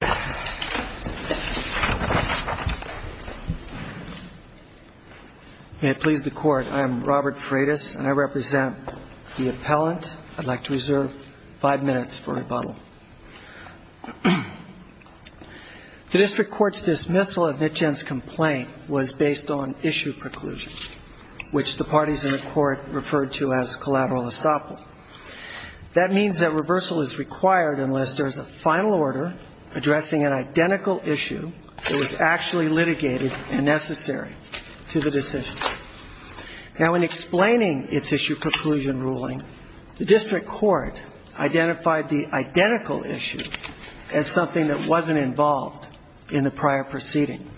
May it please the Court, I am Robert Freitas, and I represent the appellant. I'd like to reserve five minutes for rebuttal. The district court's dismissal of Nitchin's complaint was based on issue preclusion, which the parties in the court referred to as collateral estoppel. That means that reversal is required unless there is a final order addressing an identical issue that was actually litigated and necessary to the decision. Now, in explaining its issue preclusion ruling, the district court identified the identical issue as something that wasn't involved in the prior proceeding.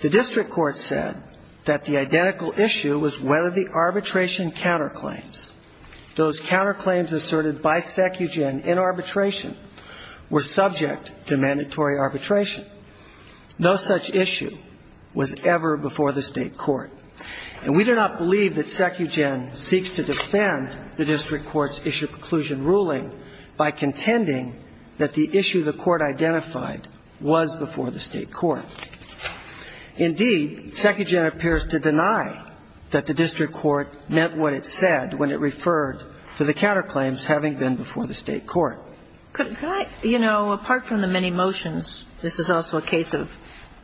The district court said that the identical issue was whether the arbitration counterclaims, those counterclaims asserted by Secugen in arbitration, were subject to mandatory arbitration. No such issue was ever before the State court. And we do not believe that Secugen seeks to defend the district court's issue preclusion ruling by contending that the issue the court identified was before the State court. Indeed, Secugen appears to deny that the district court meant what it said when it referred to the counterclaims having been before the State court. Apart from the many motions, this is also a case of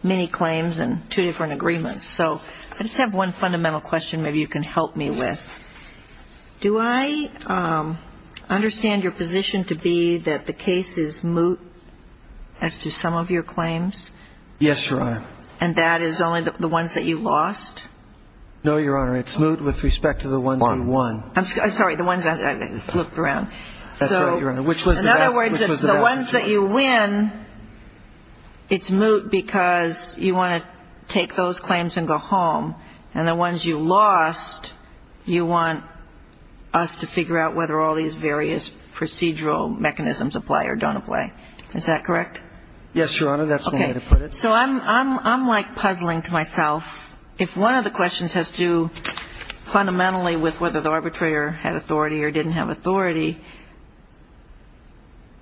many claims and two different agreements. So I just have one fundamental question maybe you can help me with. Do I understand your position to be that the case is moot as to some of your claims? Yes, Your Honor. And that is only the ones that you lost? No, Your Honor. It's moot with respect to the ones we won. I'm sorry, the ones I looked around. That's right, Your Honor. In other words, the ones that you win, it's moot because you want to take those claims and go home. And the ones you lost, you want us to figure out whether all these various procedural mechanisms apply or don't apply. Is that correct? Yes, Your Honor. That's the way to put it. So I'm like puzzling to myself. If one of the questions has to do fundamentally with whether the arbitrator had authority or didn't have authority,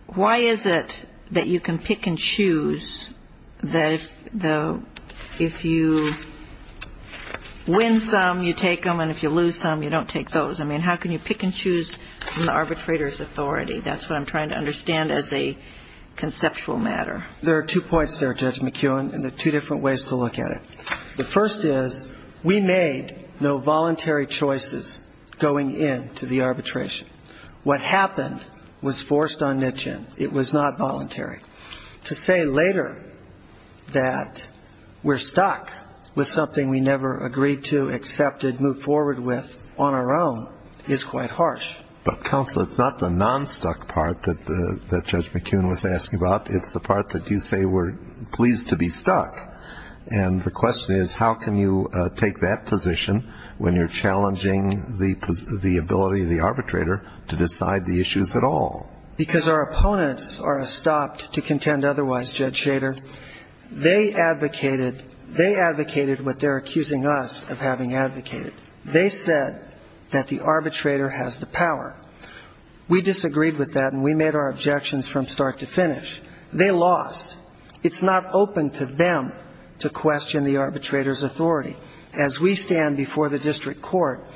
why is it that you can pick and choose that if you win some, you take them, and if you lose some, you don't take those? I mean, how can you pick and choose from the arbitrator's authority? That's what I'm trying to understand as a conceptual matter. There are two points there, Judge McKeown, and there are two different ways to look at it. The first is we made no voluntary choices going into the arbitration. What happened was forced on Nitchin. It was not voluntary. To say later that we're stuck with something we never agreed to, accepted, moved forward with on our own is quite harsh. But, Counselor, it's not the non-stuck part that Judge McKeown was asking about. It's the part that you say we're pleased to be stuck. And the question is how can you take that position when you're challenging the ability of the arbitrator to decide the issues at all? Because our opponents are stopped to contend otherwise, Judge Shader. They advocated what they're accusing us of having advocated. They said that the arbitrator has the power. We disagreed with that and we made our objections from start to finish. They lost. It's not open to them to question the arbitrator's authority. As we stand before the district court,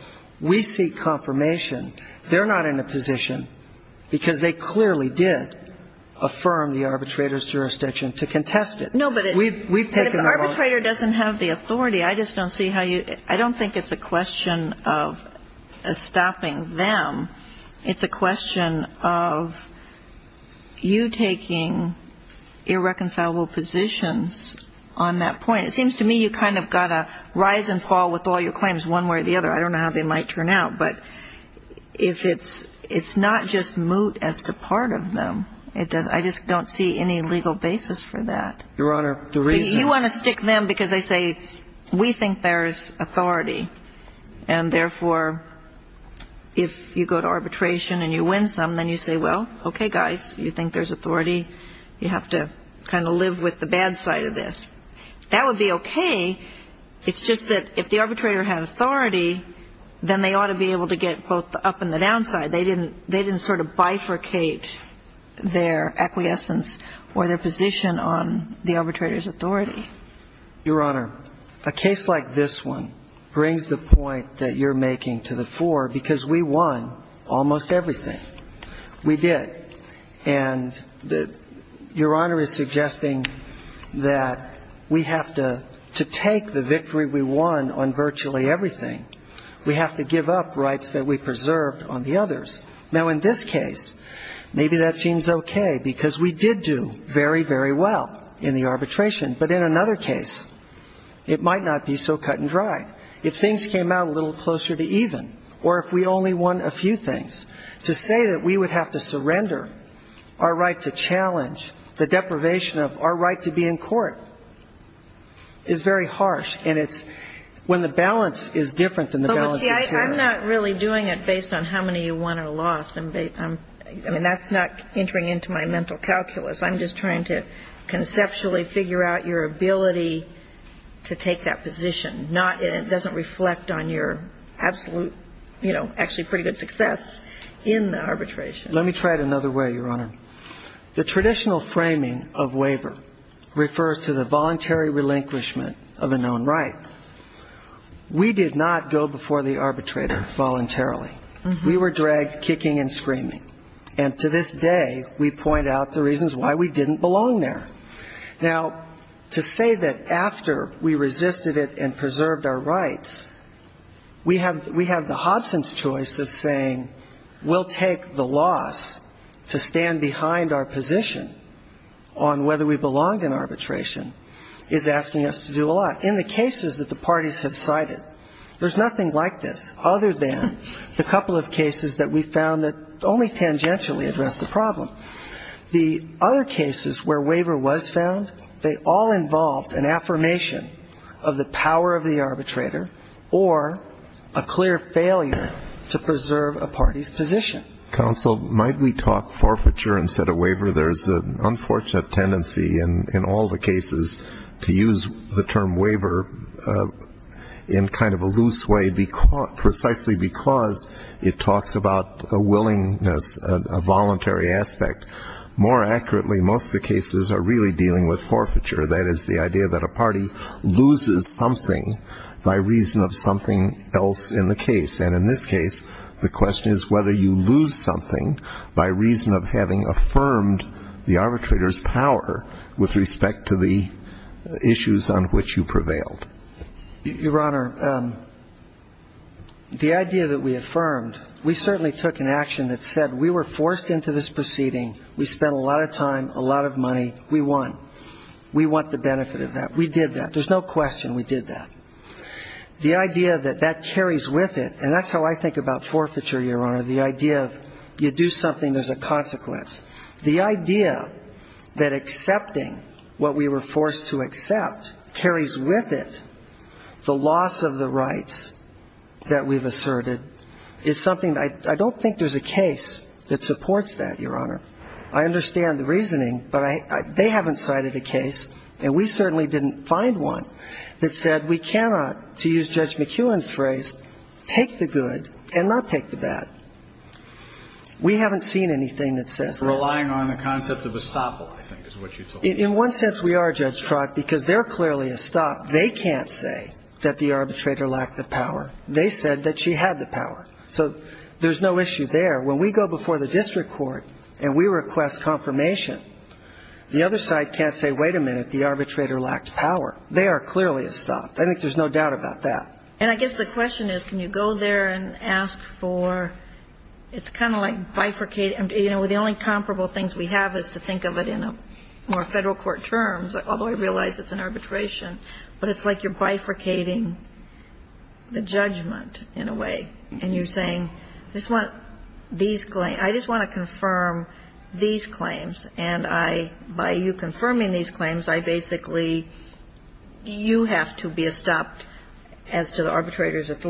we seek confirmation they're not in a position, because they clearly did, affirm the arbitrator's jurisdiction to contest it. No, but if the arbitrator doesn't have the authority, I just don't see how you ‑‑ It's a question of you taking irreconcilable positions on that point. It seems to me you kind of got to rise and fall with all your claims one way or the other. I don't know how they might turn out. But if it's not just moot as to part of them, I just don't see any legal basis for that. Your Honor, the reason ‑‑ then you say, well, okay, guys, you think there's authority? You have to kind of live with the bad side of this. That would be okay. It's just that if the arbitrator had authority, then they ought to be able to get both the up and the down side. They didn't sort of bifurcate their acquiescence or their position on the arbitrator's authority. Your Honor, a case like this one brings the point that you're making to the fore, because we won almost everything. We did. And your Honor is suggesting that we have to take the victory we won on virtually everything. We have to give up rights that we preserved on the others. Now, in this case, maybe that seems okay because we did do very, very well in the arbitration. But in another case, it might not be so cut and dry. If things came out a little closer to even, or if we only won a few things, to say that we would have to surrender our right to challenge the deprivation of our right to be in court is very harsh. And it's when the balance is different than the balance is here. Well, see, I'm not really doing it based on how many you won or lost. I mean, that's not entering into my mental calculus. I'm just trying to conceptually figure out your ability to take that position, and it doesn't reflect on your absolute, you know, actually pretty good success in the arbitration. Let me try it another way, Your Honor. The traditional framing of waiver refers to the voluntary relinquishment of a known right. We did not go before the arbitrator voluntarily. We were dragged kicking and screaming. And to this day, we point out the reasons why we didn't belong there. Now, to say that after we resisted it and preserved our rights, we have the Hobson's choice of saying we'll take the loss to stand behind our position on whether we belonged in arbitration is asking us to do a lot. In the cases that the parties have cited, there's nothing like this, other than the couple of cases that we found that only tangentially addressed the problem. The other cases where waiver was found, they all involved an affirmation of the power of the arbitrator or a clear failure to preserve a party's position. Counsel, might we talk forfeiture instead of waiver? There's an unfortunate tendency in all the cases to use the term waiver in kind of a loose way precisely because it talks about a willingness, a voluntary aspect. More accurately, most of the cases are really dealing with forfeiture. That is the idea that a party loses something by reason of something else in the case. And in this case, the question is whether you lose something by reason of having affirmed the arbitrator's power Your Honor, the idea that we affirmed, we certainly took an action that said we were forced into this proceeding. We spent a lot of time, a lot of money. We won. We want the benefit of that. We did that. There's no question we did that. The idea that that carries with it, and that's how I think about forfeiture, Your Honor, the idea of you do something, there's a consequence. The idea that accepting what we were forced to accept carries with it the loss of the rights that we've asserted is something that I don't think there's a case that supports that, Your Honor. I understand the reasoning, but they haven't cited a case, and we certainly didn't find one, that said we cannot, to use Judge McEwen's phrase, take the good and not take the bad. We haven't seen anything that says that. It's relying on the concept of estoppel, I think, is what you told me. In one sense, we are, Judge Trott, because they're clearly estopped. They can't say that the arbitrator lacked the power. They said that she had the power. So there's no issue there. When we go before the district court and we request confirmation, the other side can't say, wait a minute, the arbitrator lacked power. They are clearly estopped. I think there's no doubt about that. And I guess the question is, can you go there and ask for ‑‑ it's kind of like bifurcating. You know, the only comparable things we have is to think of it in a more federal court terms, although I realize it's an arbitration, but it's like you're bifurcating the judgment in a way, and you're saying, I just want these claims, I just want to confirm these claims, and I, by you confirming these claims, I basically, you have to be estopped as the arbitrator. And that's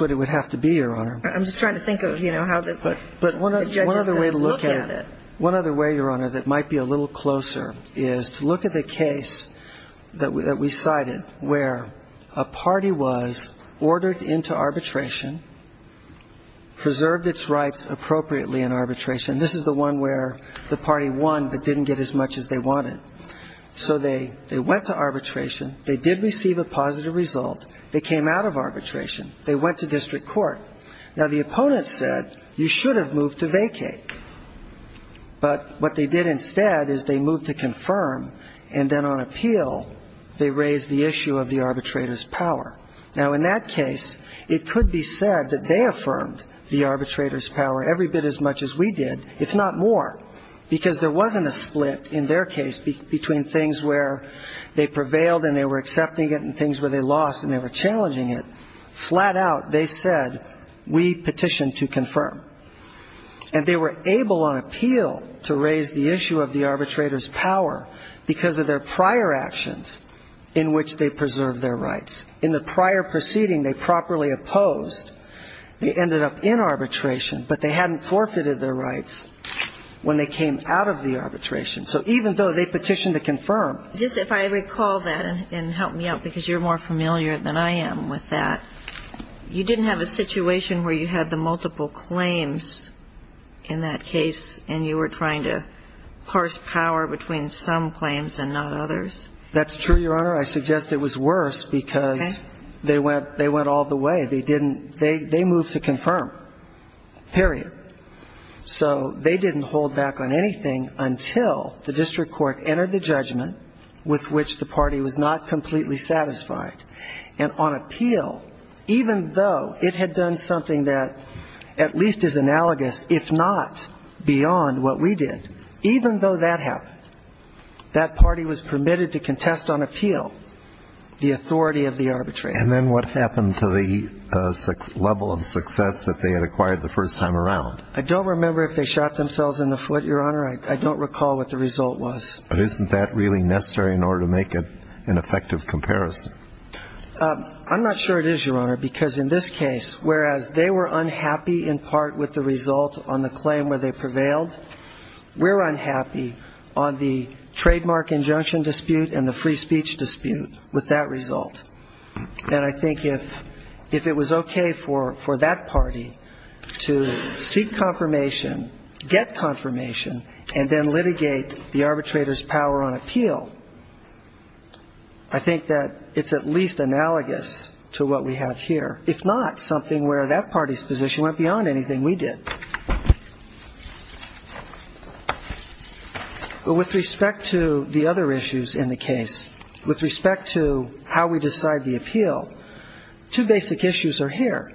what it would have to be, Your Honor. I'm just trying to think of, you know, how the judges are going to look at it. But one other way to look at it, one other way, Your Honor, that might be a little closer is to look at the case that we cited where a party was ordered into arbitration, preserved its rights appropriately in arbitration. This is the one where the party won but didn't get as much as they wanted. So they went to arbitration. They did receive a positive result. They came out of arbitration. They went to district court. Now, the opponent said, you should have moved to vacate. But what they did instead is they moved to confirm, and then on appeal, they raised the issue of the arbitrator's power. Now, in that case, it could be said that they affirmed the arbitrator's power every bit as much as we did, if not more, because there wasn't a split in their case between things where they prevailed and they were accepting it and things where they lost and they were challenging it. Flat out, they said, we petition to confirm. And they were able on appeal to raise the issue of the arbitrator's power because of their prior actions in which they preserved their rights. In the prior proceeding, they properly opposed. They ended up in arbitration, but they hadn't forfeited their rights. When they came out of the arbitration, so even though they petitioned to confirm. Just if I recall that, and help me out, because you're more familiar than I am with that, you didn't have a situation where you had the multiple claims in that case, and you were trying to parse power between some claims and not others? That's true, Your Honor. I suggest it was worse because they went all the way. They moved to confirm, period. So they didn't hold back on anything until the district court entered the judgment with which the party was not completely satisfied. And on appeal, even though it had done something that at least is analogous, if not beyond what we did, even though that happened, that party was permitted to contest on appeal the authority of the arbitrator. And then what happened to the level of success that they had acquired the first time around? I don't remember if they shot themselves in the foot, Your Honor. I don't recall what the result was. But isn't that really necessary in order to make an effective comparison? I'm not sure it is, Your Honor, because in this case, whereas they were unhappy in part with the result on the claim where they prevailed, we're unhappy on the trademark injunction dispute and the free speech dispute with that result. And I think if it was okay for that party to seek confirmation, get confirmation, and then litigate the arbitrator's power on appeal, I think that it's at least analogous to what we have here, if not something where that party's position went beyond anything we did. But with respect to the other issues in the case, with respect to how we decide the appeal, two basic issues are here.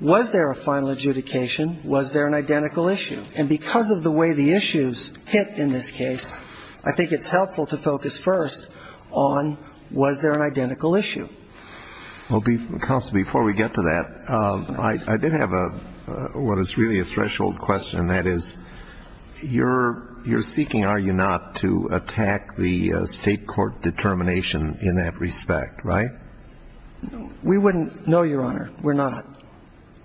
Was there a final adjudication? Was there an identical issue? And because of the way the issues hit in this case, I think it's helpful to focus first on was there an identical issue. Well, counsel, before we get to that, I did have what is really a threshold question. That is, you're seeking, are you not, to attack the state court determination in that respect, right? We wouldn't know, Your Honor. We're not.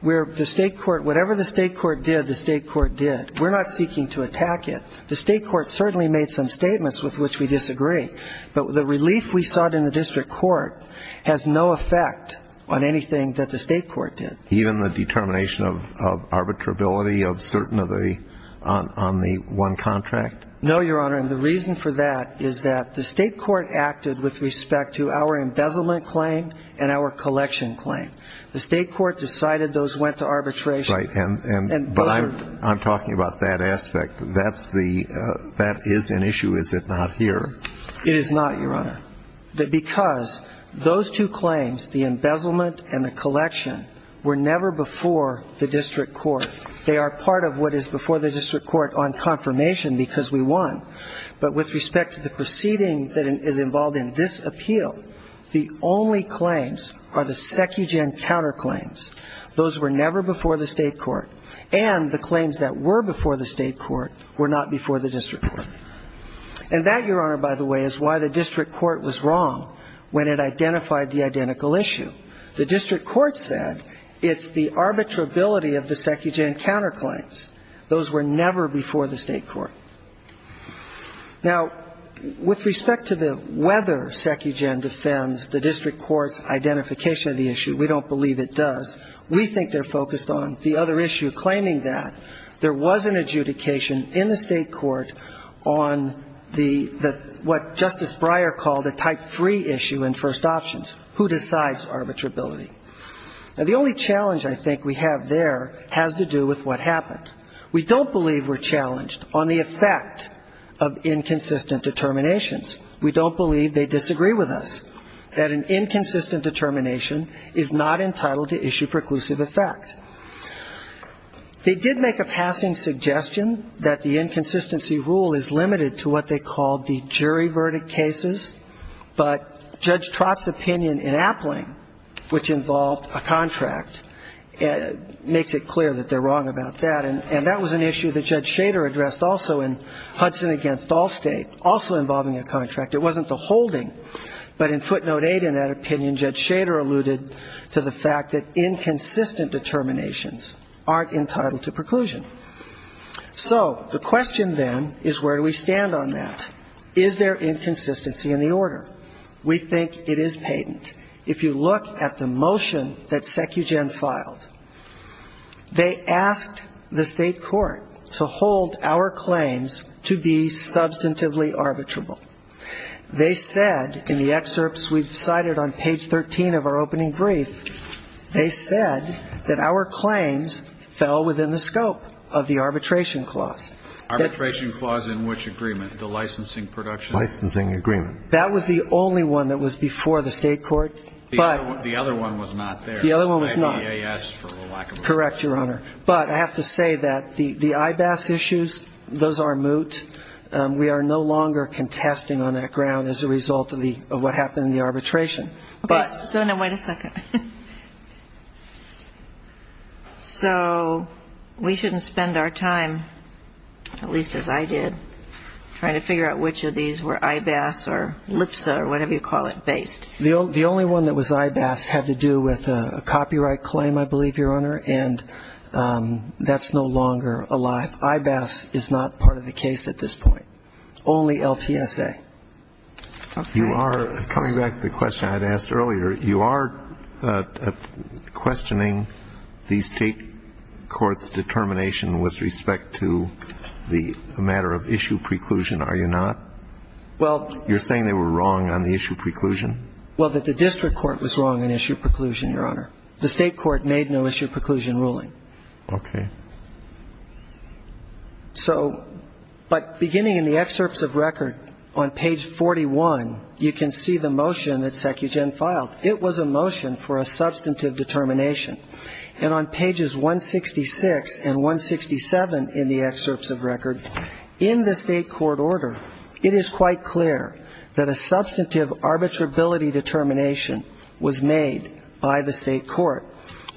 Whatever the state court did, the state court did. We're not seeking to attack it. The state court certainly made some statements with which we disagree. But the relief we sought in the district court has no effect on anything that the state court did. Even the determination of arbitrability on the one contract? No, Your Honor, and the reason for that is that the state court acted with respect to our embezzlement claim and our collection claim. The state court decided those went to arbitration. That is an issue, is it not, here? It is not, Your Honor. Because those two claims, the embezzlement and the collection, were never before the district court. They are part of what is before the district court on confirmation because we won. But with respect to the proceeding that is involved in this appeal, the only claims are the SecuGen counterclaims. Those were never before the state court, and the claims that were before the state court were not before the district court. And that, Your Honor, by the way, is why the district court was wrong when it identified the identical issue. The district court said it's the arbitrability of the SecuGen counterclaims. Those were never before the state court. Now, with respect to whether SecuGen defends the district court's identification of the issue, we don't believe it does. We think they're focused on the other issue, claiming that there was an adjudication in the state court on the, what Justice Breyer called a type three issue in first options, who decides arbitrability. Now, the only challenge I think we have there has to do with what happened. We don't believe we're challenged on the effect of inconsistent determinations. We don't believe they disagree with us, that an inconsistent determination is not entitled to issue preclusions. We don't believe it has a conclusive effect. They did make a passing suggestion that the inconsistency rule is limited to what they called the jury verdict cases, but Judge Trott's opinion in Appling, which involved a contract, makes it clear that they're wrong about that. And that was an issue that Judge Shader addressed also in Hudson against Allstate, also involving a contract. It wasn't the holding, but in footnote 8 in that opinion, Judge Shader alluded to the fact that inconsistent determinations aren't entitled to preclusion. So the question then is where do we stand on that? Is there inconsistency in the order? We think it is patent. If you look at the motion that SecuGen filed, they asked the state court to hold our claims to be substantively arbitrable. They said in the excerpts we cited on page 13 of our opening brief, they said that our claims fell within the scope of the arbitration clause. Arbitration clause in which agreement, the licensing production? Licensing agreement. That was the only one that was before the state court. The other one was not there. The other one was not. The EAS, for lack of a better word. Correct, Your Honor. But I have to say that the IBAS issues, those are moot. We are no longer contesting on that ground as a result of what happened in the arbitration. So we shouldn't spend our time, at least as I did, trying to figure out which of these were IBAS or LPSA or whatever you call it based. The only one that was IBAS had to do with a copyright claim, I believe, Your Honor, and that's no longer alive. IBAS is not part of the case at this point. Only LPSA. Coming back to the question I had asked earlier, you are questioning the state court's determination with respect to the matter of issue preclusion, are you not? You are saying they were wrong on the issue of preclusion? Well, that the district court was wrong on issue of preclusion, Your Honor. The state court made no issue of preclusion ruling. Okay. So, but beginning in the excerpts of record on page 41, you can see the motion that SecuGen filed. It was a motion for a substantive determination. And on pages 166 and 167 in the excerpts of record, in the state court's motion, it was a motion for a substantive arbitrability determination. In the state court order, it is quite clear that a substantive arbitrability determination was made by the state court.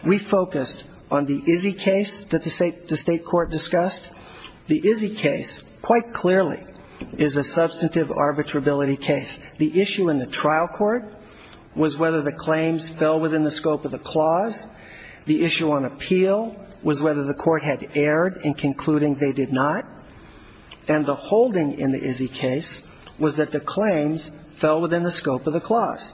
We focused on the Izzy case that the state court discussed. The Izzy case quite clearly is a substantive arbitrability case. The issue in the trial court was whether the claims fell within the scope of the clause. The issue on appeal was whether the court had erred in concluding they did not. And the holding in the Izzy case was that the claims fell within the scope of the clause.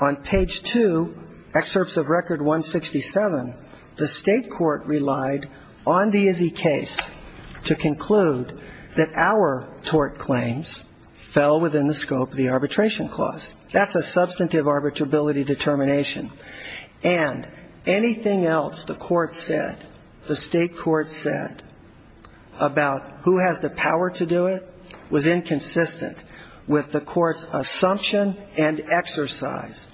On page two, excerpts of record 167, the state court relied on the Izzy case to conclude that our tort claims fell within the scope of the arbitration clause. That's a substantive arbitrability determination. And anything else the court said, the state court did not do it, was inconsistent with the court's assumption and exercise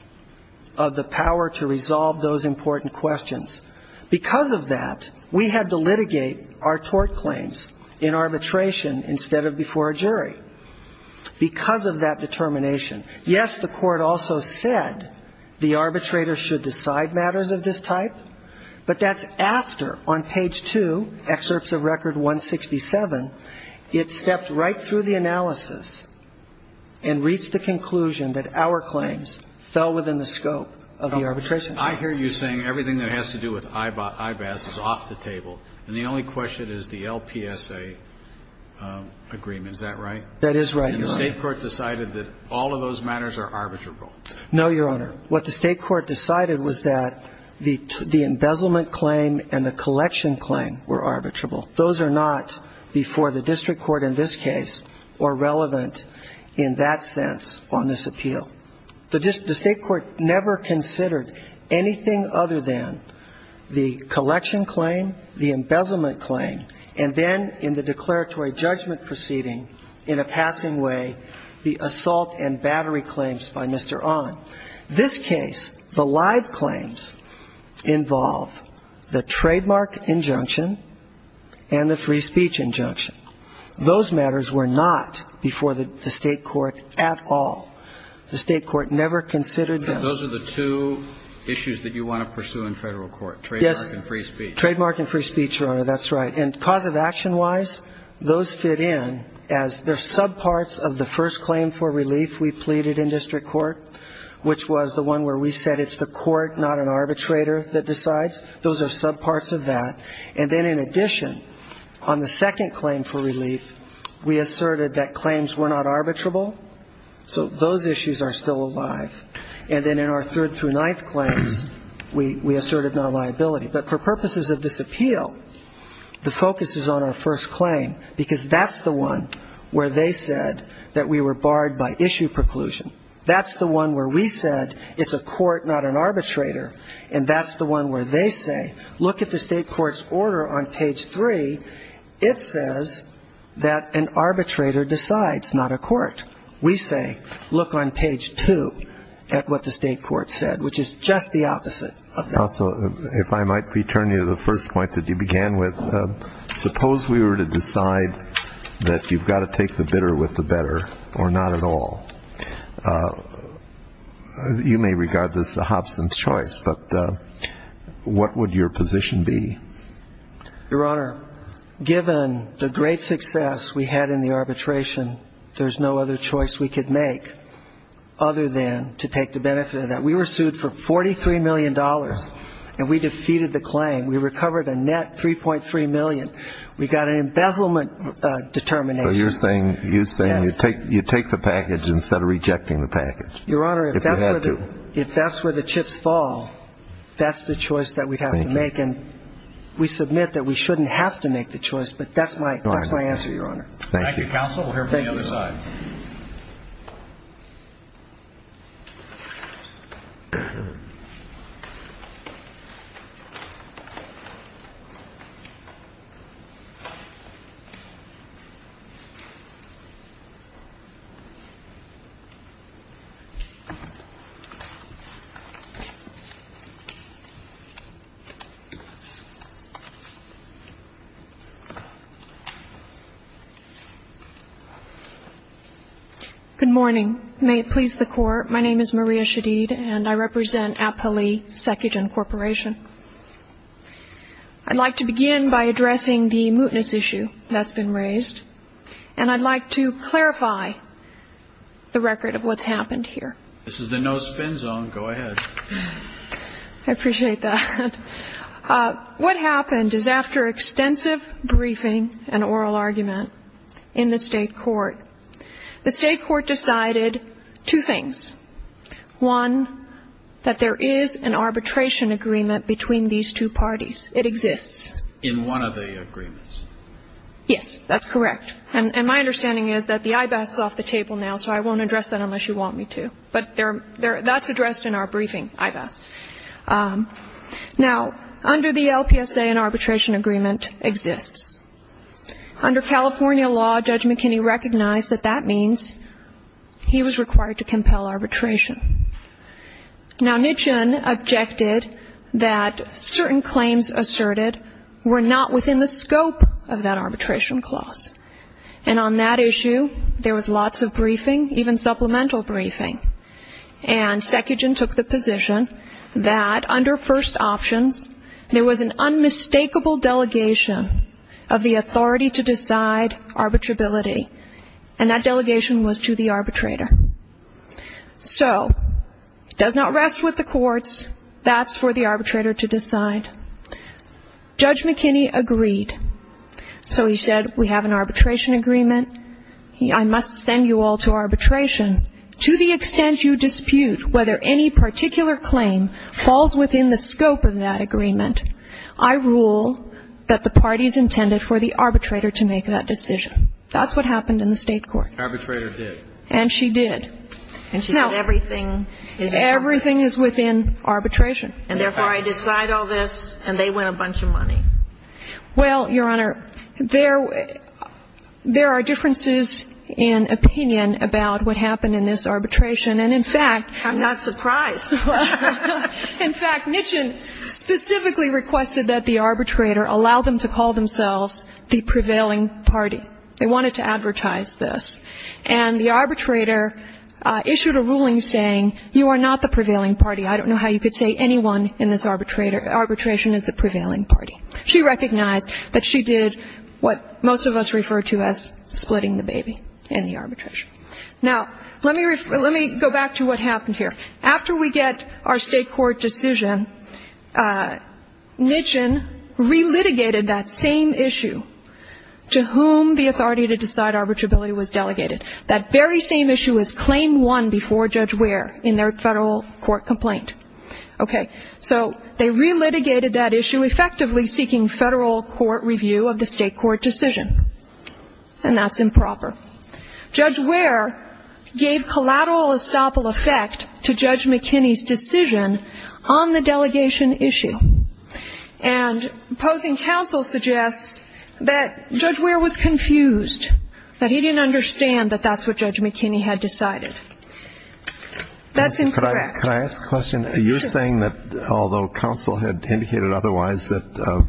of the power to resolve those important questions. Because of that, we had to litigate our tort claims in arbitration instead of before a jury. Because of that determination. Yes, the court also said the claims fell within the scope of the arbitration clause. And the state court decided that all of those matters are arbitrable. No, Your Honor. What the state court decided was that the embezzlement claim and the collection claim were all arbitrable. And the state court decided that the collection claim and the embezzlement claim were all arbitrable. Those are not before the district court in this case or relevant in that sense on this appeal. The state court never considered anything other than the collection claim, the embezzlement claim, and then in the declaratory judgment proceeding, in a passing way, the assault and battery claims by Mr. On. This case, the live claims, involve the trademark injunction, the assault and battery claim, the embezzlement claim, the assault and battery claim, and the free speech injunction. Those matters were not before the state court at all. The state court never considered them. Those are the two issues that you want to pursue in federal court, trademark and free speech. Yes, trademark and free speech, Your Honor, that's right. And cause of action wise, those fit in as they're subparts of the first claim for relief we pleaded in district court, which was the one where we said it's the court, not an arbitrator that decides. Those are subparts of that. And then in addition, on the second claim for relief, we asserted that claims were not arbitrable, so those issues are still alive. And then in our third through ninth claims, we asserted non-liability. But for purposes of this appeal, the focus is on our first claim, because that's the one where they said that we were barred by issue preclusion. That's the one where we said it's a court, not an arbitrator. And that's the one where they say, look at the state court's order on page three. It says that an arbitrator decides, not a court. We say, look on page two at what the state court said, which is just the opposite of that. So if I might return you to the first point that you began with, suppose we were to decide that you've got to take the bitter with the court. And you may regard this a Hobson's choice, but what would your position be? Your Honor, given the great success we had in the arbitration, there's no other choice we could make other than to take the benefit of that. We were sued for $43 million, and we defeated the claim. We recovered a net $3.3 million. We got an embezzlement determination. So you're saying you take the package instead of rejecting the package? Your Honor, if that's where the chips fall, that's the choice that we'd have to make. And we submit that we shouldn't have to make the choice, but that's my answer, Your Honor. Good morning. May it please the Court, my name is Maria Shadid, and I represent Apali Secogen Corporation. I'd like to begin by clarifying the record of what's happened here. This is the no-spin zone, go ahead. I appreciate that. What happened is after extensive briefing and oral argument in the state court, the state court decided two things. One, that there is an arbitration agreement between these two parties. It exists. In one of the agreements. Yes, that's correct. And my understanding is that the I-BAS is off the table now, so I won't address that unless you want me to. But that's addressed in our briefing, I-BAS. Now, under the LPSA, an arbitration agreement exists. Under California law, Judge McKinney recognized that that means he was required to compel arbitration. Now, Nitchin objected that certain claims asserted by the I-BAS could not be used against the state court. They were not within the scope of that arbitration clause. And on that issue, there was lots of briefing, even supplemental briefing. And Secogen took the position that under first options, there was an unmistakable delegation of the authority to decide arbitrability, and that delegation was to the arbitrator. So it does not rest with the courts. That's for the arbitrator to decide. Judge McKinney agreed. So he said, we have an arbitration agreement. I must send you all to arbitration. To the extent you dispute whether any particular claim falls within the scope of that agreement, I rule that the party is intended for the arbitrator to make that decision. That's what happened in the state court. And the arbitrator did. And she did. And she said everything is within arbitration. And therefore, I decide all this, and they win a bunch of money. Well, Your Honor, there are differences in opinion about what happened in this arbitration. And, in fact, I'm not surprised. In fact, Mitchin specifically requested that the arbitrator allow them to call themselves the prevailing party. They wanted to advertise this. And the arbitrator issued a ruling saying, you are not the prevailing party. I don't know how you could say anyone in this arbitration is the prevailing party. She recognized that she did what most of us refer to as splitting the baby in the arbitration. Now, let me go back to what happened here. After we get our state court decision, Mitchin relitigated that same issue to whom the authority to decide arbitrability was delegated. That very same issue was Claim 1 before Judge Ware in their federal court complaint. Okay. So they relitigated that issue, effectively seeking federal court review of the state court decision. And that's improper. Judge Ware gave collateral estoppel effect to Judge McKinney's decision on the delegation issue. And opposing counsel suggests that Judge Ware was confused, that he didn't understand that that's what Judge McKinney had decided. That's incorrect. Could I ask a question? You're saying that although counsel had indicated otherwise, that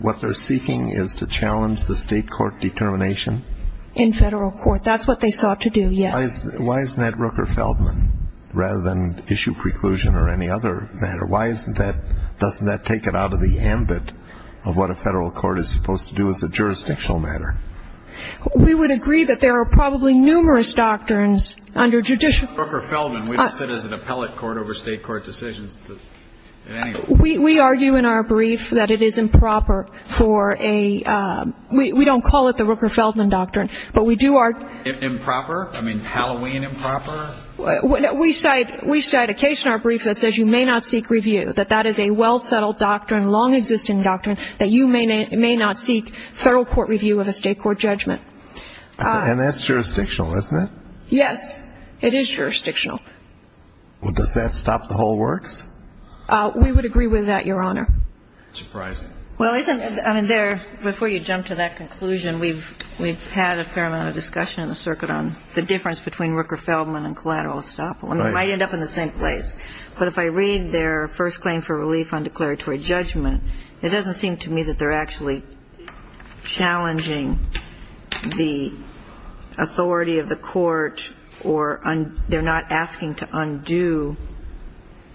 what they're seeking is to challenge the state court determination? In federal court. That's what they sought to do, yes. Why isn't that Rooker-Feldman rather than issue preclusion or any other matter? Why doesn't that take it out of the ambit of what a federal court is supposed to do as a jurisdictional matter? We would agree that there are probably numerous doctrines under judicial... Rooker-Feldman. We don't sit as an appellate court over state court decisions. We argue in our brief that it is improper for a we don't call it the Rooker-Feldman doctrine, but we do argue... Improper? I mean, Halloween improper? We cite a case in our brief that says you may not seek review, that that is a well-settled doctrine, long-existing doctrine, that you may not seek federal court review of a state court judgment. And that's jurisdictional, isn't it? Yes, it is jurisdictional. Well, does that stop the whole works? We would agree with that, Your Honor. Well, before you jump to that conclusion, we've had a fair amount of discussion in the circuit on the difference between Rooker-Feldman and collateral estoppel. And it might end up in the same place. But if I read their first claim for relief on declaratory judgment, it doesn't seem to me that they're actually challenging the authority of the court or they're not asking to undo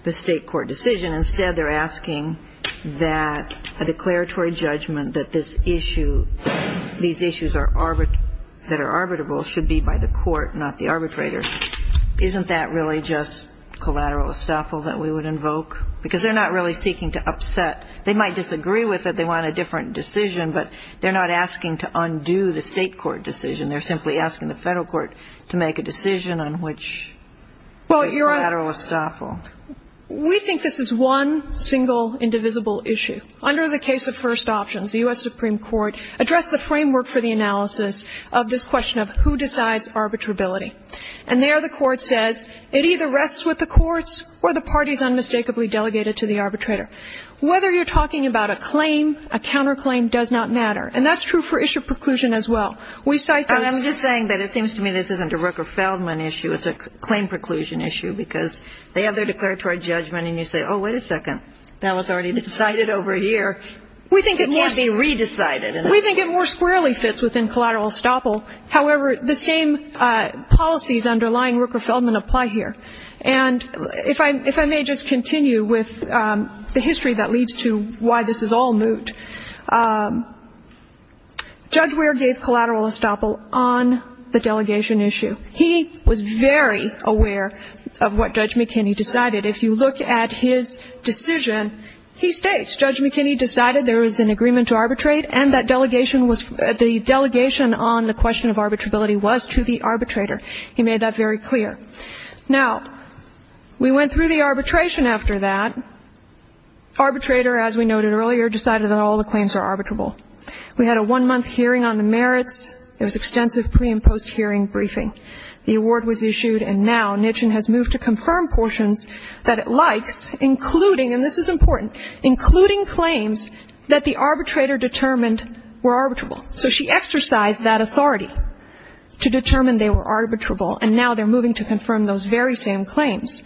the state court decision. Instead, they're asking that a declaratory judgment that this issue, these issues that are arbitrable should be by the court, not the arbitrator. Isn't that really just collateral estoppel that we would invoke? Because they're not really seeking to upset. They might disagree with it, they want a different decision, but they're not asking to undo the state court decision. They're simply asking the federal court to make a decision on which collateral estoppel. We think this is one single indivisible issue. Under the case of first options, the U.S. Supreme Court addressed the framework for the analysis of this question of who decides arbitrability. And there the court says it either rests with the courts or the party is unmistakably delegated to the arbitrator. Whether you're talking about a claim, a counterclaim does not matter. And that's true for issue preclusion as well. We cite the ---- I'm just saying that it seems to me this isn't a Rooker-Feldman issue. It's a claim preclusion issue because they have their declaratory judgment and you say, oh, wait a second, that was already decided over here. It can't be re-decided. We think it more squarely fits within collateral estoppel. However, the same policies underlying Rooker-Feldman apply here. And if I may just continue with the history that leads to why this is all moot. Judge Weir gave collateral estoppel on the delegation issue. He was very aware of what Judge McKinney decided. If you look at his decision, he states Judge McKinney decided there was an agreement to arbitrate and that delegation was ---- the delegation on the question of arbitrability was to the arbitrator. He made that very clear. Now, we went through the arbitration after that. Arbitrator, as we noted earlier, decided that all the claims are arbitrable. We had a one-month hearing on the merits. There was extensive pre- and post-hearing briefing. The award was issued, and now Nitchin has moved to confirm portions that it likes, including, and this is important, including claims that the arbitrator determined were arbitrable. So she exercised that authority to determine they were arbitrable, and now they're moving to confirm those very same claims.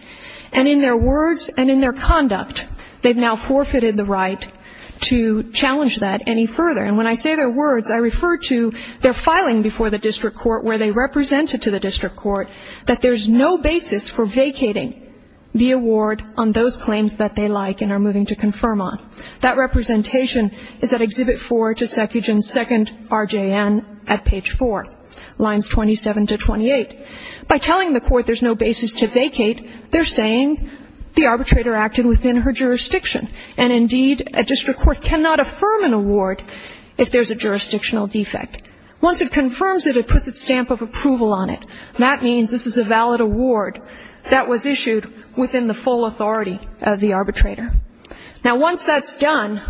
And in their words and in their conduct, they've now forfeited the right to challenge that any further. And when I say their words, I refer to their filing before the district court where they represented to the district court that there's no basis for vacating the award on those claims that they like and are moving to confirm on. That representation is at Exhibit 4 to Secuchan, 2nd RJN at page 4, lines 27 to 28. By telling the court there's no basis to vacate, they're saying the arbitrator acted within her jurisdiction. And indeed, a district court cannot affirm an award if there's a jurisdictional defect. Once it confirms it, it puts a stamp of approval on it. That means this is a valid award that was issued within the full authority of the arbitrator. Now, once that's done,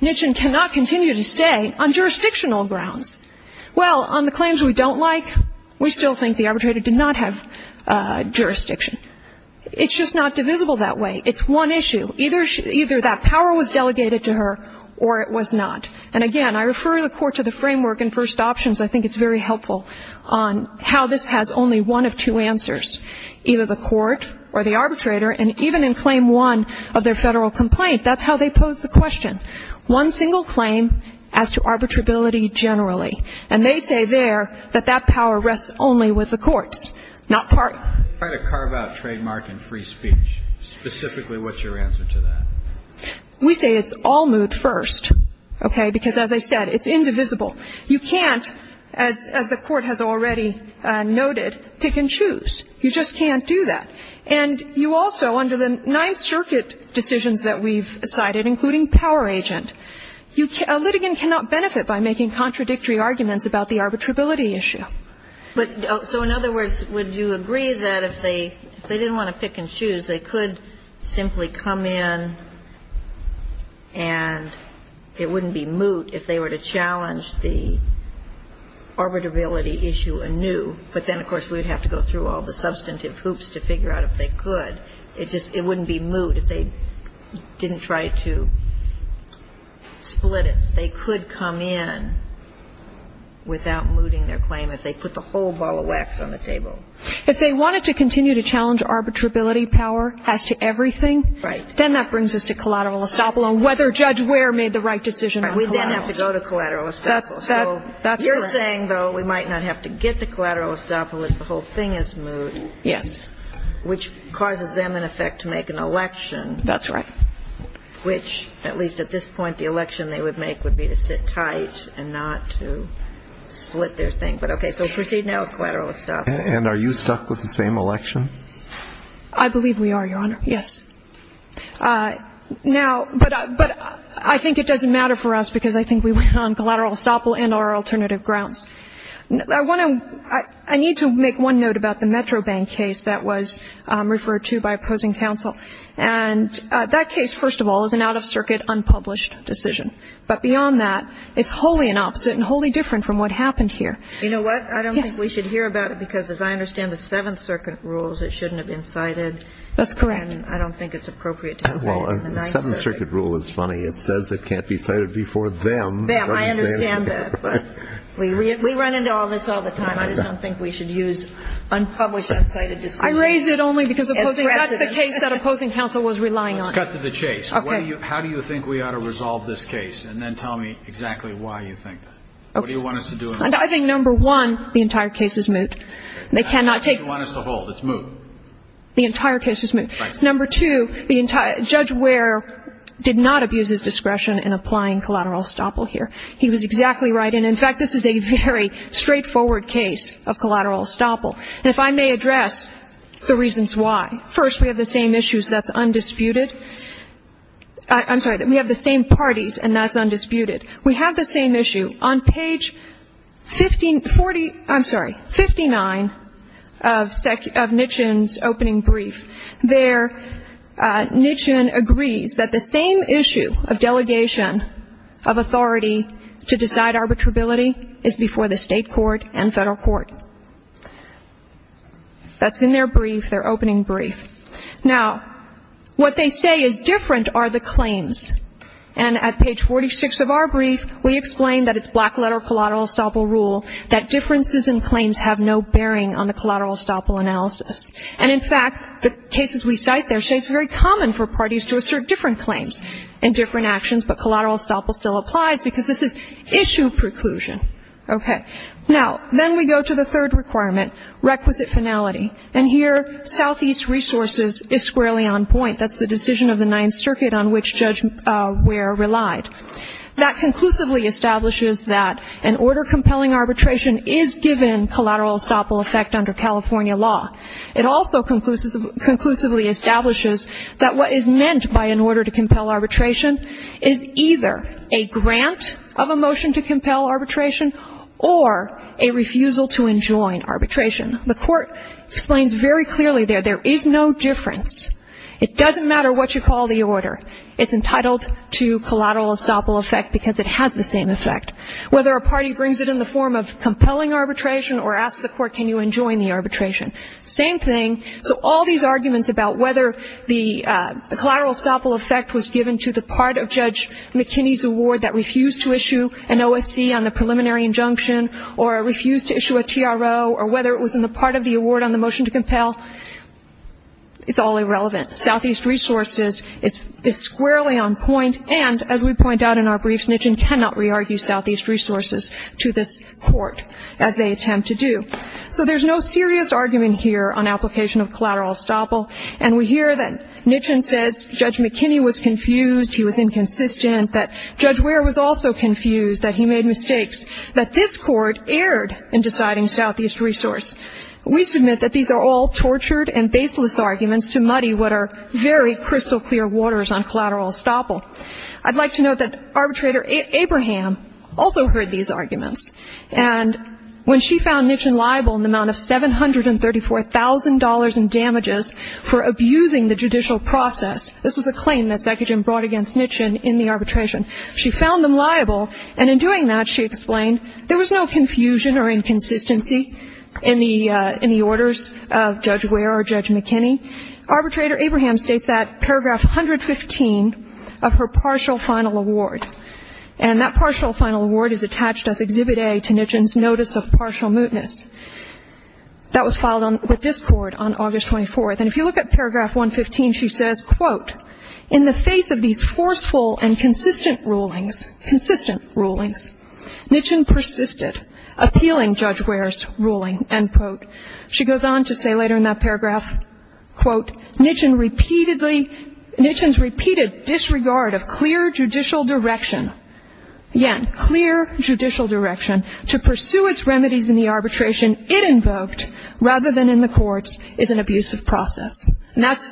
Nitchin cannot continue to stay on jurisdictional grounds. Well, on the claims we don't like, we still think the arbitrator did not have jurisdiction. It's just not divisible that way. It's one issue. Either that power was delegated to her or it was not. And, again, I refer the court to the framework in first options. I think it's very helpful on how this has only one of two answers, either the court or the arbitrator. And even in Claim 1 of their federal complaint, that's how they pose the question, one single claim as to arbitrability generally. And they say there that that power rests only with the courts, not parties. I'm trying to carve out trademark and free speech. Specifically, what's your answer to that? We say it's all moot first, okay, because as I said, it's indivisible. You can't, as the court has already noted, pick and choose. You just can't do that. And you also, under the Ninth Circuit decisions that we've cited, including power agent, a litigant cannot benefit by making contradictory arguments about the arbitrability issue. So in other words, would you agree that if they didn't want to pick and choose, they could simply come in and it wouldn't be moot if they were to challenge the arbitrability issue anew, but then, of course, we would have to go through all the substantive hoops to figure out if they could. It just wouldn't be moot if they didn't try to split it. If they could come in without mooting their claim, if they put the whole ball of wax on the table. If they wanted to continue to challenge arbitrability power as to everything, then that brings us to collateral estoppel and whether Judge Ware made the right decision on collaterals. We then have to go to collateral estoppel. That's right. You're saying, though, we might not have to get to collateral estoppel if the whole thing is moot. Yes. Which causes them, in effect, to make an election. That's right. Which, at least at this point, the election they would make would be to sit tight and not to split their thing. But, okay, so proceed now with collateral estoppel. And are you stuck with the same election? I believe we are, Your Honor. Yes. Now, but I think it doesn't matter for us because I think we went on collateral estoppel and our alternative grounds. I want to ñ I need to make one note about the Metro Bank case that was referred to by opposing counsel. And that case, first of all, is an out-of-circuit, unpublished decision. But beyond that, it's wholly an opposite and wholly different from what happened here. You know what? I don't think we should hear about it because, as I understand the Seventh Circuit rules, it shouldn't have been cited. That's correct. And I don't think it's appropriate to have that in the Ninth Circuit. Well, the Seventh Circuit rule is funny. It says it can't be cited before them. Them. I understand that. But we run into all this all the time. I just don't think we should use unpublished, uncited decisions as precedent. I raise it only because that's the case that opposing counsel was relying on. Let's cut to the chase. Okay. How do you think we ought to resolve this case? And then tell me exactly why you think that. Okay. What do you want us to do? I think, number one, the entire case is moot. They cannot take ñ How much do you want us to hold? It's moot. The entire case is moot. Right. Number two, Judge Ware did not abuse his discretion in applying collateral estoppel here. He was exactly right. And, in fact, this is a very straightforward case of collateral estoppel. And if I may address the reasons why. First, we have the same issues. That's undisputed. I'm sorry. We have the same parties, and that's undisputed. We have the same issue. On page 50 ñ 40 ñ I'm sorry, 59 of Nitchin's opening brief there, Nitchin agrees that the same issue of delegation of authority to decide arbitrability is before the state court and federal court. That's in their brief, their opening brief. Now, what they say is different are the claims. And at page 46 of our brief, we explain that it's black-letter collateral estoppel rule, that differences in claims have no bearing on the collateral estoppel analysis. And, in fact, the cases we cite there say it's very common for parties to assert different claims and different actions, but collateral estoppel still applies because this is issue preclusion. Okay. Now, then we go to the third requirement, requisite finality. And here, Southeast Resources is squarely on point. That's the decision of the Ninth Circuit on which Judge Ware relied. That conclusively establishes that an order compelling arbitration is given collateral estoppel effect under California law. It also conclusively establishes that what is meant by an order to compel arbitration is either a grant of a motion to compel arbitration or a refusal to enjoin arbitration. The court explains very clearly there, there is no difference. It doesn't matter what you call the order. It's entitled to collateral estoppel effect because it has the same effect. Whether a party brings it in the form of compelling arbitration or asks the court can you enjoin the arbitration, same thing. So all these arguments about whether the collateral estoppel effect was given to the part of Judge McKinney's award that refused to issue an OSC on the preliminary injunction or refused to issue a TRO or whether it was in the part of the award on the motion to compel, it's all irrelevant. Southeast Resources is squarely on point. And as we point out in our briefs, Nitchin cannot re-argue Southeast Resources to this court as they attempt to do. So there's no serious argument here on application of collateral estoppel. And we hear that Nitchin says Judge McKinney was confused, he was inconsistent, that Judge Ware was also confused, that he made mistakes, that this court erred in deciding Southeast Resource. We submit that these are all tortured and baseless arguments to muddy what are very crystal clear waters on collateral estoppel. I'd like to note that arbitrator Abraham also heard these arguments. And when she found Nitchin liable in the amount of $734,000 in damages, for abusing the judicial process, this was a claim that Zekagin brought against Nitchin in the arbitration. She found them liable. And in doing that, she explained there was no confusion or inconsistency in the orders of Judge Ware or Judge McKinney. Arbitrator Abraham states that paragraph 115 of her partial final award, and that partial final award is attached as Exhibit A to Nitchin's notice of partial mootness. That was filed with this court on August 24th. And if you look at paragraph 115, she says, quote, in the face of these forceful and consistent rulings, consistent rulings, Nitchin persisted appealing Judge Ware's ruling, end quote. She goes on to say later in that paragraph, quote, Nitchin's repeated disregard of clear judicial direction, clear judicial direction to pursue its remedies in the arbitration it invoked rather than in the courts is an abusive process. And that's,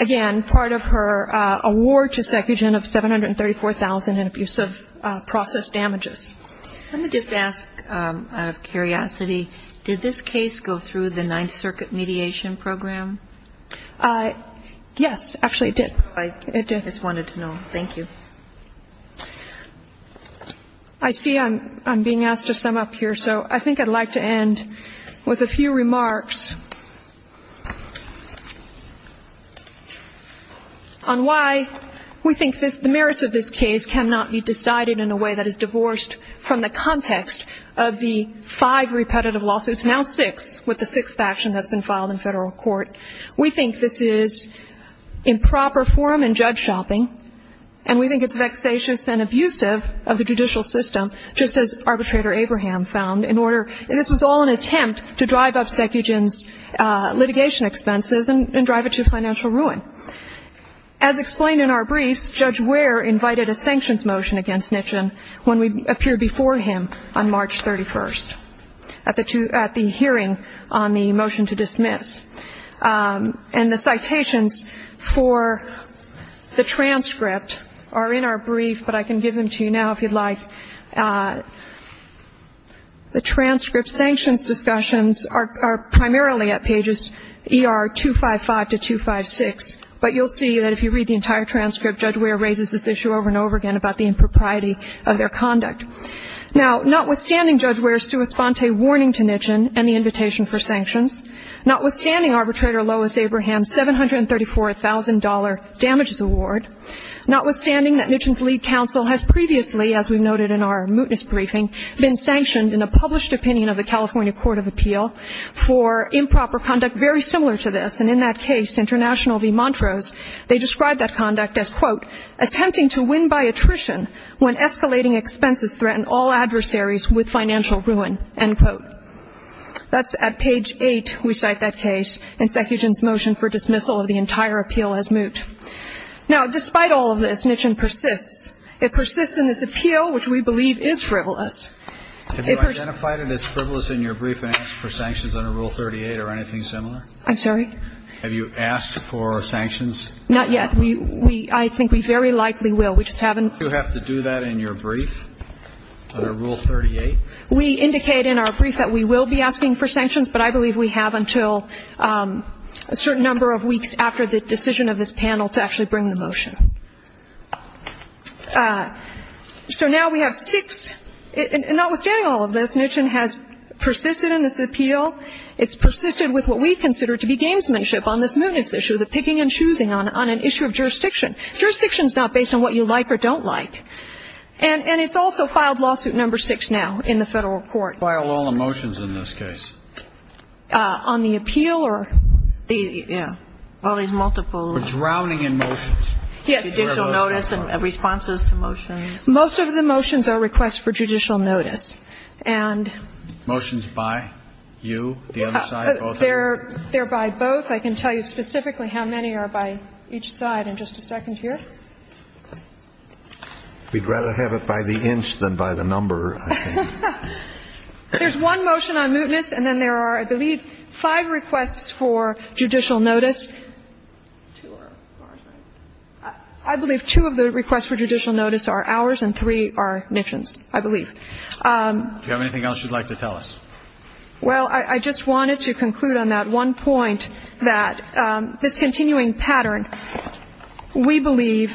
again, part of her award to Zekagin of $734,000 in abusive process damages. Let me just ask out of curiosity, did this case go through the Ninth Circuit mediation program? Yes, actually it did. I just wanted to know. Thank you. I see I'm being asked to sum up here, so I think I'd like to end with a few remarks on why we think the merits of this case cannot be decided in a way that is divorced from the context of the five repetitive lawsuits, now six with the sixth action that's been filed in federal court. We think this is improper forum and judge shopping, and we think it's vexatious and abusive of the judicial system, just as arbitrator Abraham found in order, and this was all an attempt to drive up Zekagin's litigation expenses and drive it to financial ruin. As explained in our briefs, Judge Ware invited a sanctions motion against Nitchin when we appeared before him on March 31st at the hearing on the motion to dismiss. And the citations for the transcript are in our brief, but I can give them to you now if you'd like. The transcript sanctions discussions are primarily at pages ER 255 to 256, but you'll see that if you read the entire transcript, Judge Ware raises this issue over and over again about the impropriety of their conduct. Now, notwithstanding Judge Ware's sua sponte warning to Nitchin and the invitation for sanctions, notwithstanding arbitrator Lois Abraham's $734,000 damages award, notwithstanding that Nitchin's lead counsel has previously, as we noted in our mootness briefing, been sanctioned in a published opinion of the California Court of Appeal for improper conduct very similar to this. And in that case, International v. Montrose, they described that conduct as, quote, attempting to win by attrition when escalating expenses threaten all adversaries with financial ruin, end quote. That's at page 8, we cite that case. Insecution's motion for dismissal of the entire appeal has moot. Now, despite all of this, Nitchin persists. It persists in this appeal, which we believe is frivolous. It persists. Have you identified it as frivolous in your brief and asked for sanctions under Rule 38 or anything similar? I'm sorry? Have you asked for sanctions? Not yet. I think we very likely will. We just haven't. Do you have to do that in your brief under Rule 38? We indicate in our brief that we will be asking for sanctions, but I believe we have until a certain number of weeks after the decision of this panel to actually bring the motion. So now we have six. Notwithstanding all of this, Nitchin has persisted in this appeal. It's persisted with what we consider to be gamesmanship on this mootness issue, the picking and choosing on an issue of jurisdiction. Jurisdiction's not based on what you like or don't like. And it's also filed Lawsuit No. 6 now in the Federal Court. Why are all the motions in this case? On the appeal or the, yeah. Well, there's multiple. We're drowning in motions. Yes. Judicial notice and responses to motions. Most of the motions are requests for judicial notice. And. Motions by you, the other side, both of you? They're by both. I can tell you specifically how many are by each side in just a second here. We'd rather have it by the inch than by the number. There's one motion on mootness. And then there are, I believe, five requests for judicial notice. I believe two of the requests for judicial notice are ours and three are Nitchin's, I believe. Do you have anything else you'd like to tell us? Well, I just wanted to conclude on that one point that this continuing pattern, we believe,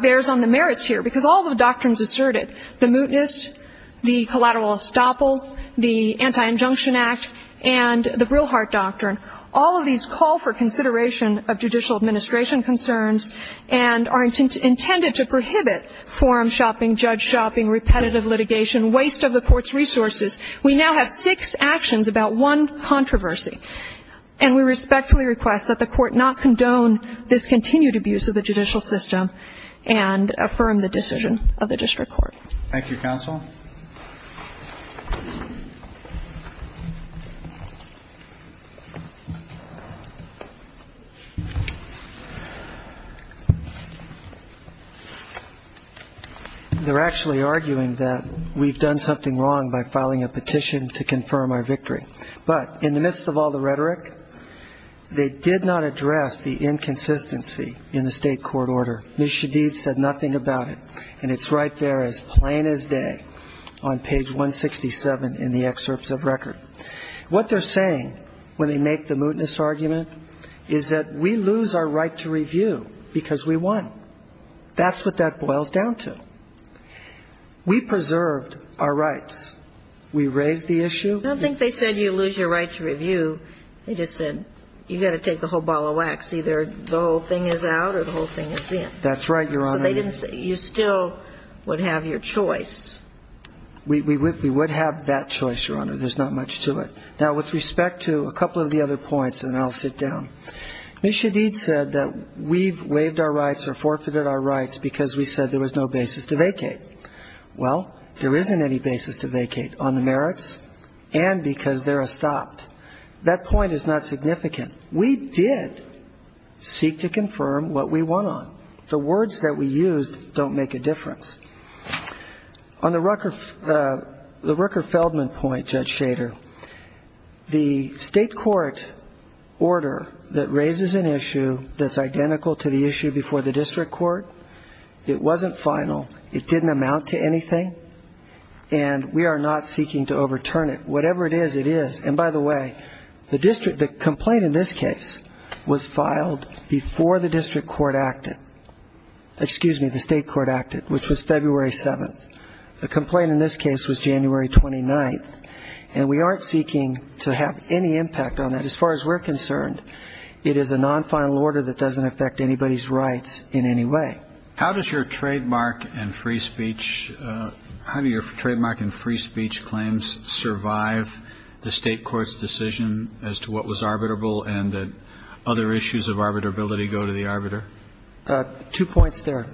bears on the merits here because all the doctrines asserted, the mootness, the collateral estoppel, the Anti-Injunction Act, and the Brillhart Doctrine, all of these call for consideration of judicial administration concerns and are intended to prohibit forum shopping, judge shopping, repetitive litigation, waste of the Court's resources. We now have six actions about one controversy. And we respectfully request that the Court not condone this continued abuse of the judicial system and affirm the decision of the district court. Thank you, counsel. They're actually arguing that we've done something wrong by filing a petition to confirm our victory. But in the midst of all the rhetoric, they did not address the inconsistency in the state court order. Ms. Shadid said nothing about it. And it's right there as plain as day on page 167 in the excerpts of record. What they're saying when they make the mootness argument is that we lose our right to review because we won. That's what that boils down to. We preserved our rights. We raised the issue. I don't think they said you lose your right to review. They just said you've got to take the whole ball of wax. Either the whole thing is out or the whole thing is in. That's right, Your Honor. So they didn't say you still would have your choice. We would have that choice, Your Honor. There's not much to it. Now, with respect to a couple of the other points, and then I'll sit down. Ms. Shadid said that we've waived our rights or forfeited our rights because we said there was no basis to vacate. Well, there isn't any basis to vacate on the merits and because they're estopped. That point is not significant. We did seek to confirm what we won on. The words that we used don't make a difference. On the Rucker-Feldman point, Judge Shader, the state court order that raises an issue that's identical to the issue before the district court, it wasn't final, it didn't amount to anything, and we are not seeking to overturn it. Whatever it is, it is. And by the way, the complaint in this case was filed before the district court acted. Excuse me, the state court acted, which was February 7th. The complaint in this case was January 29th, and we aren't seeking to have any impact on that. As far as we're concerned, it is a non-final order that doesn't affect anybody's rights in any way. How does your trademark and free speech claims survive the state court's decision as to what was arbitrable and that other issues of arbitrability go to the arbiter? Two points there,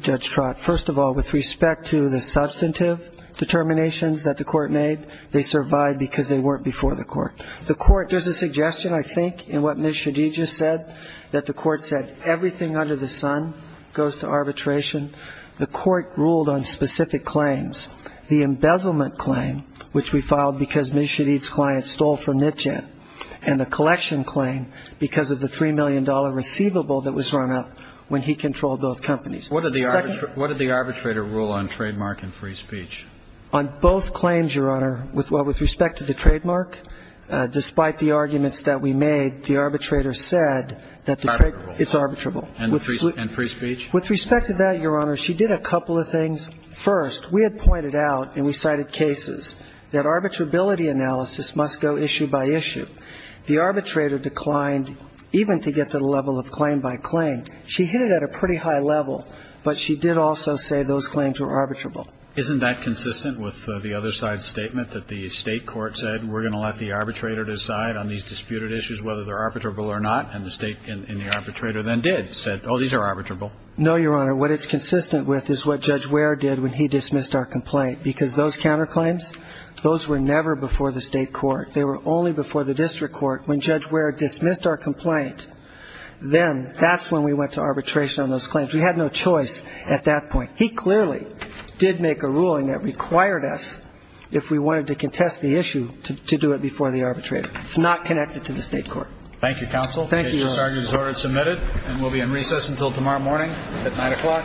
Judge Trott. First of all, with respect to the substantive determinations that the court made, they survived because they weren't before the court. There's a suggestion, I think, in what Ms. Shadid just said, that the court said everything under the sun goes to arbitration. The court ruled on specific claims, the embezzlement claim, which we filed because Ms. Shadid's client stole from NCHET, and the collection claim because of the $3 million receivable that was run up when he controlled both companies. What did the arbitrator rule on trademark and free speech? On both claims, Your Honor, with respect to the trademark, despite the arguments that we made, the arbitrator said that the trade ---- Arbitrable. It's arbitrable. And free speech? With respect to that, Your Honor, she did a couple of things. First, we had pointed out, and we cited cases, that arbitrability analysis must go issue by issue. The arbitrator declined even to get to the level of claim by claim. She hit it at a pretty high level, but she did also say those claims were arbitrable. Isn't that consistent with the other side's statement that the state court said, we're going to let the arbitrator decide on these disputed issues whether they're arbitrable or not, and the state and the arbitrator then did, said, oh, these are arbitrable? No, Your Honor. What it's consistent with is what Judge Ware did when he dismissed our complaint, because those counterclaims, those were never before the state court. They were only before the district court. When Judge Ware dismissed our complaint, then that's when we went to arbitration on those claims. We had no choice at that point. He clearly did make a ruling that required us, if we wanted to contest the issue, to do it before the arbitrator. It's not connected to the state court. Thank you, counsel. Thank you, Your Honor. And we'll be in recess until tomorrow morning at 9 o'clock. Thank you.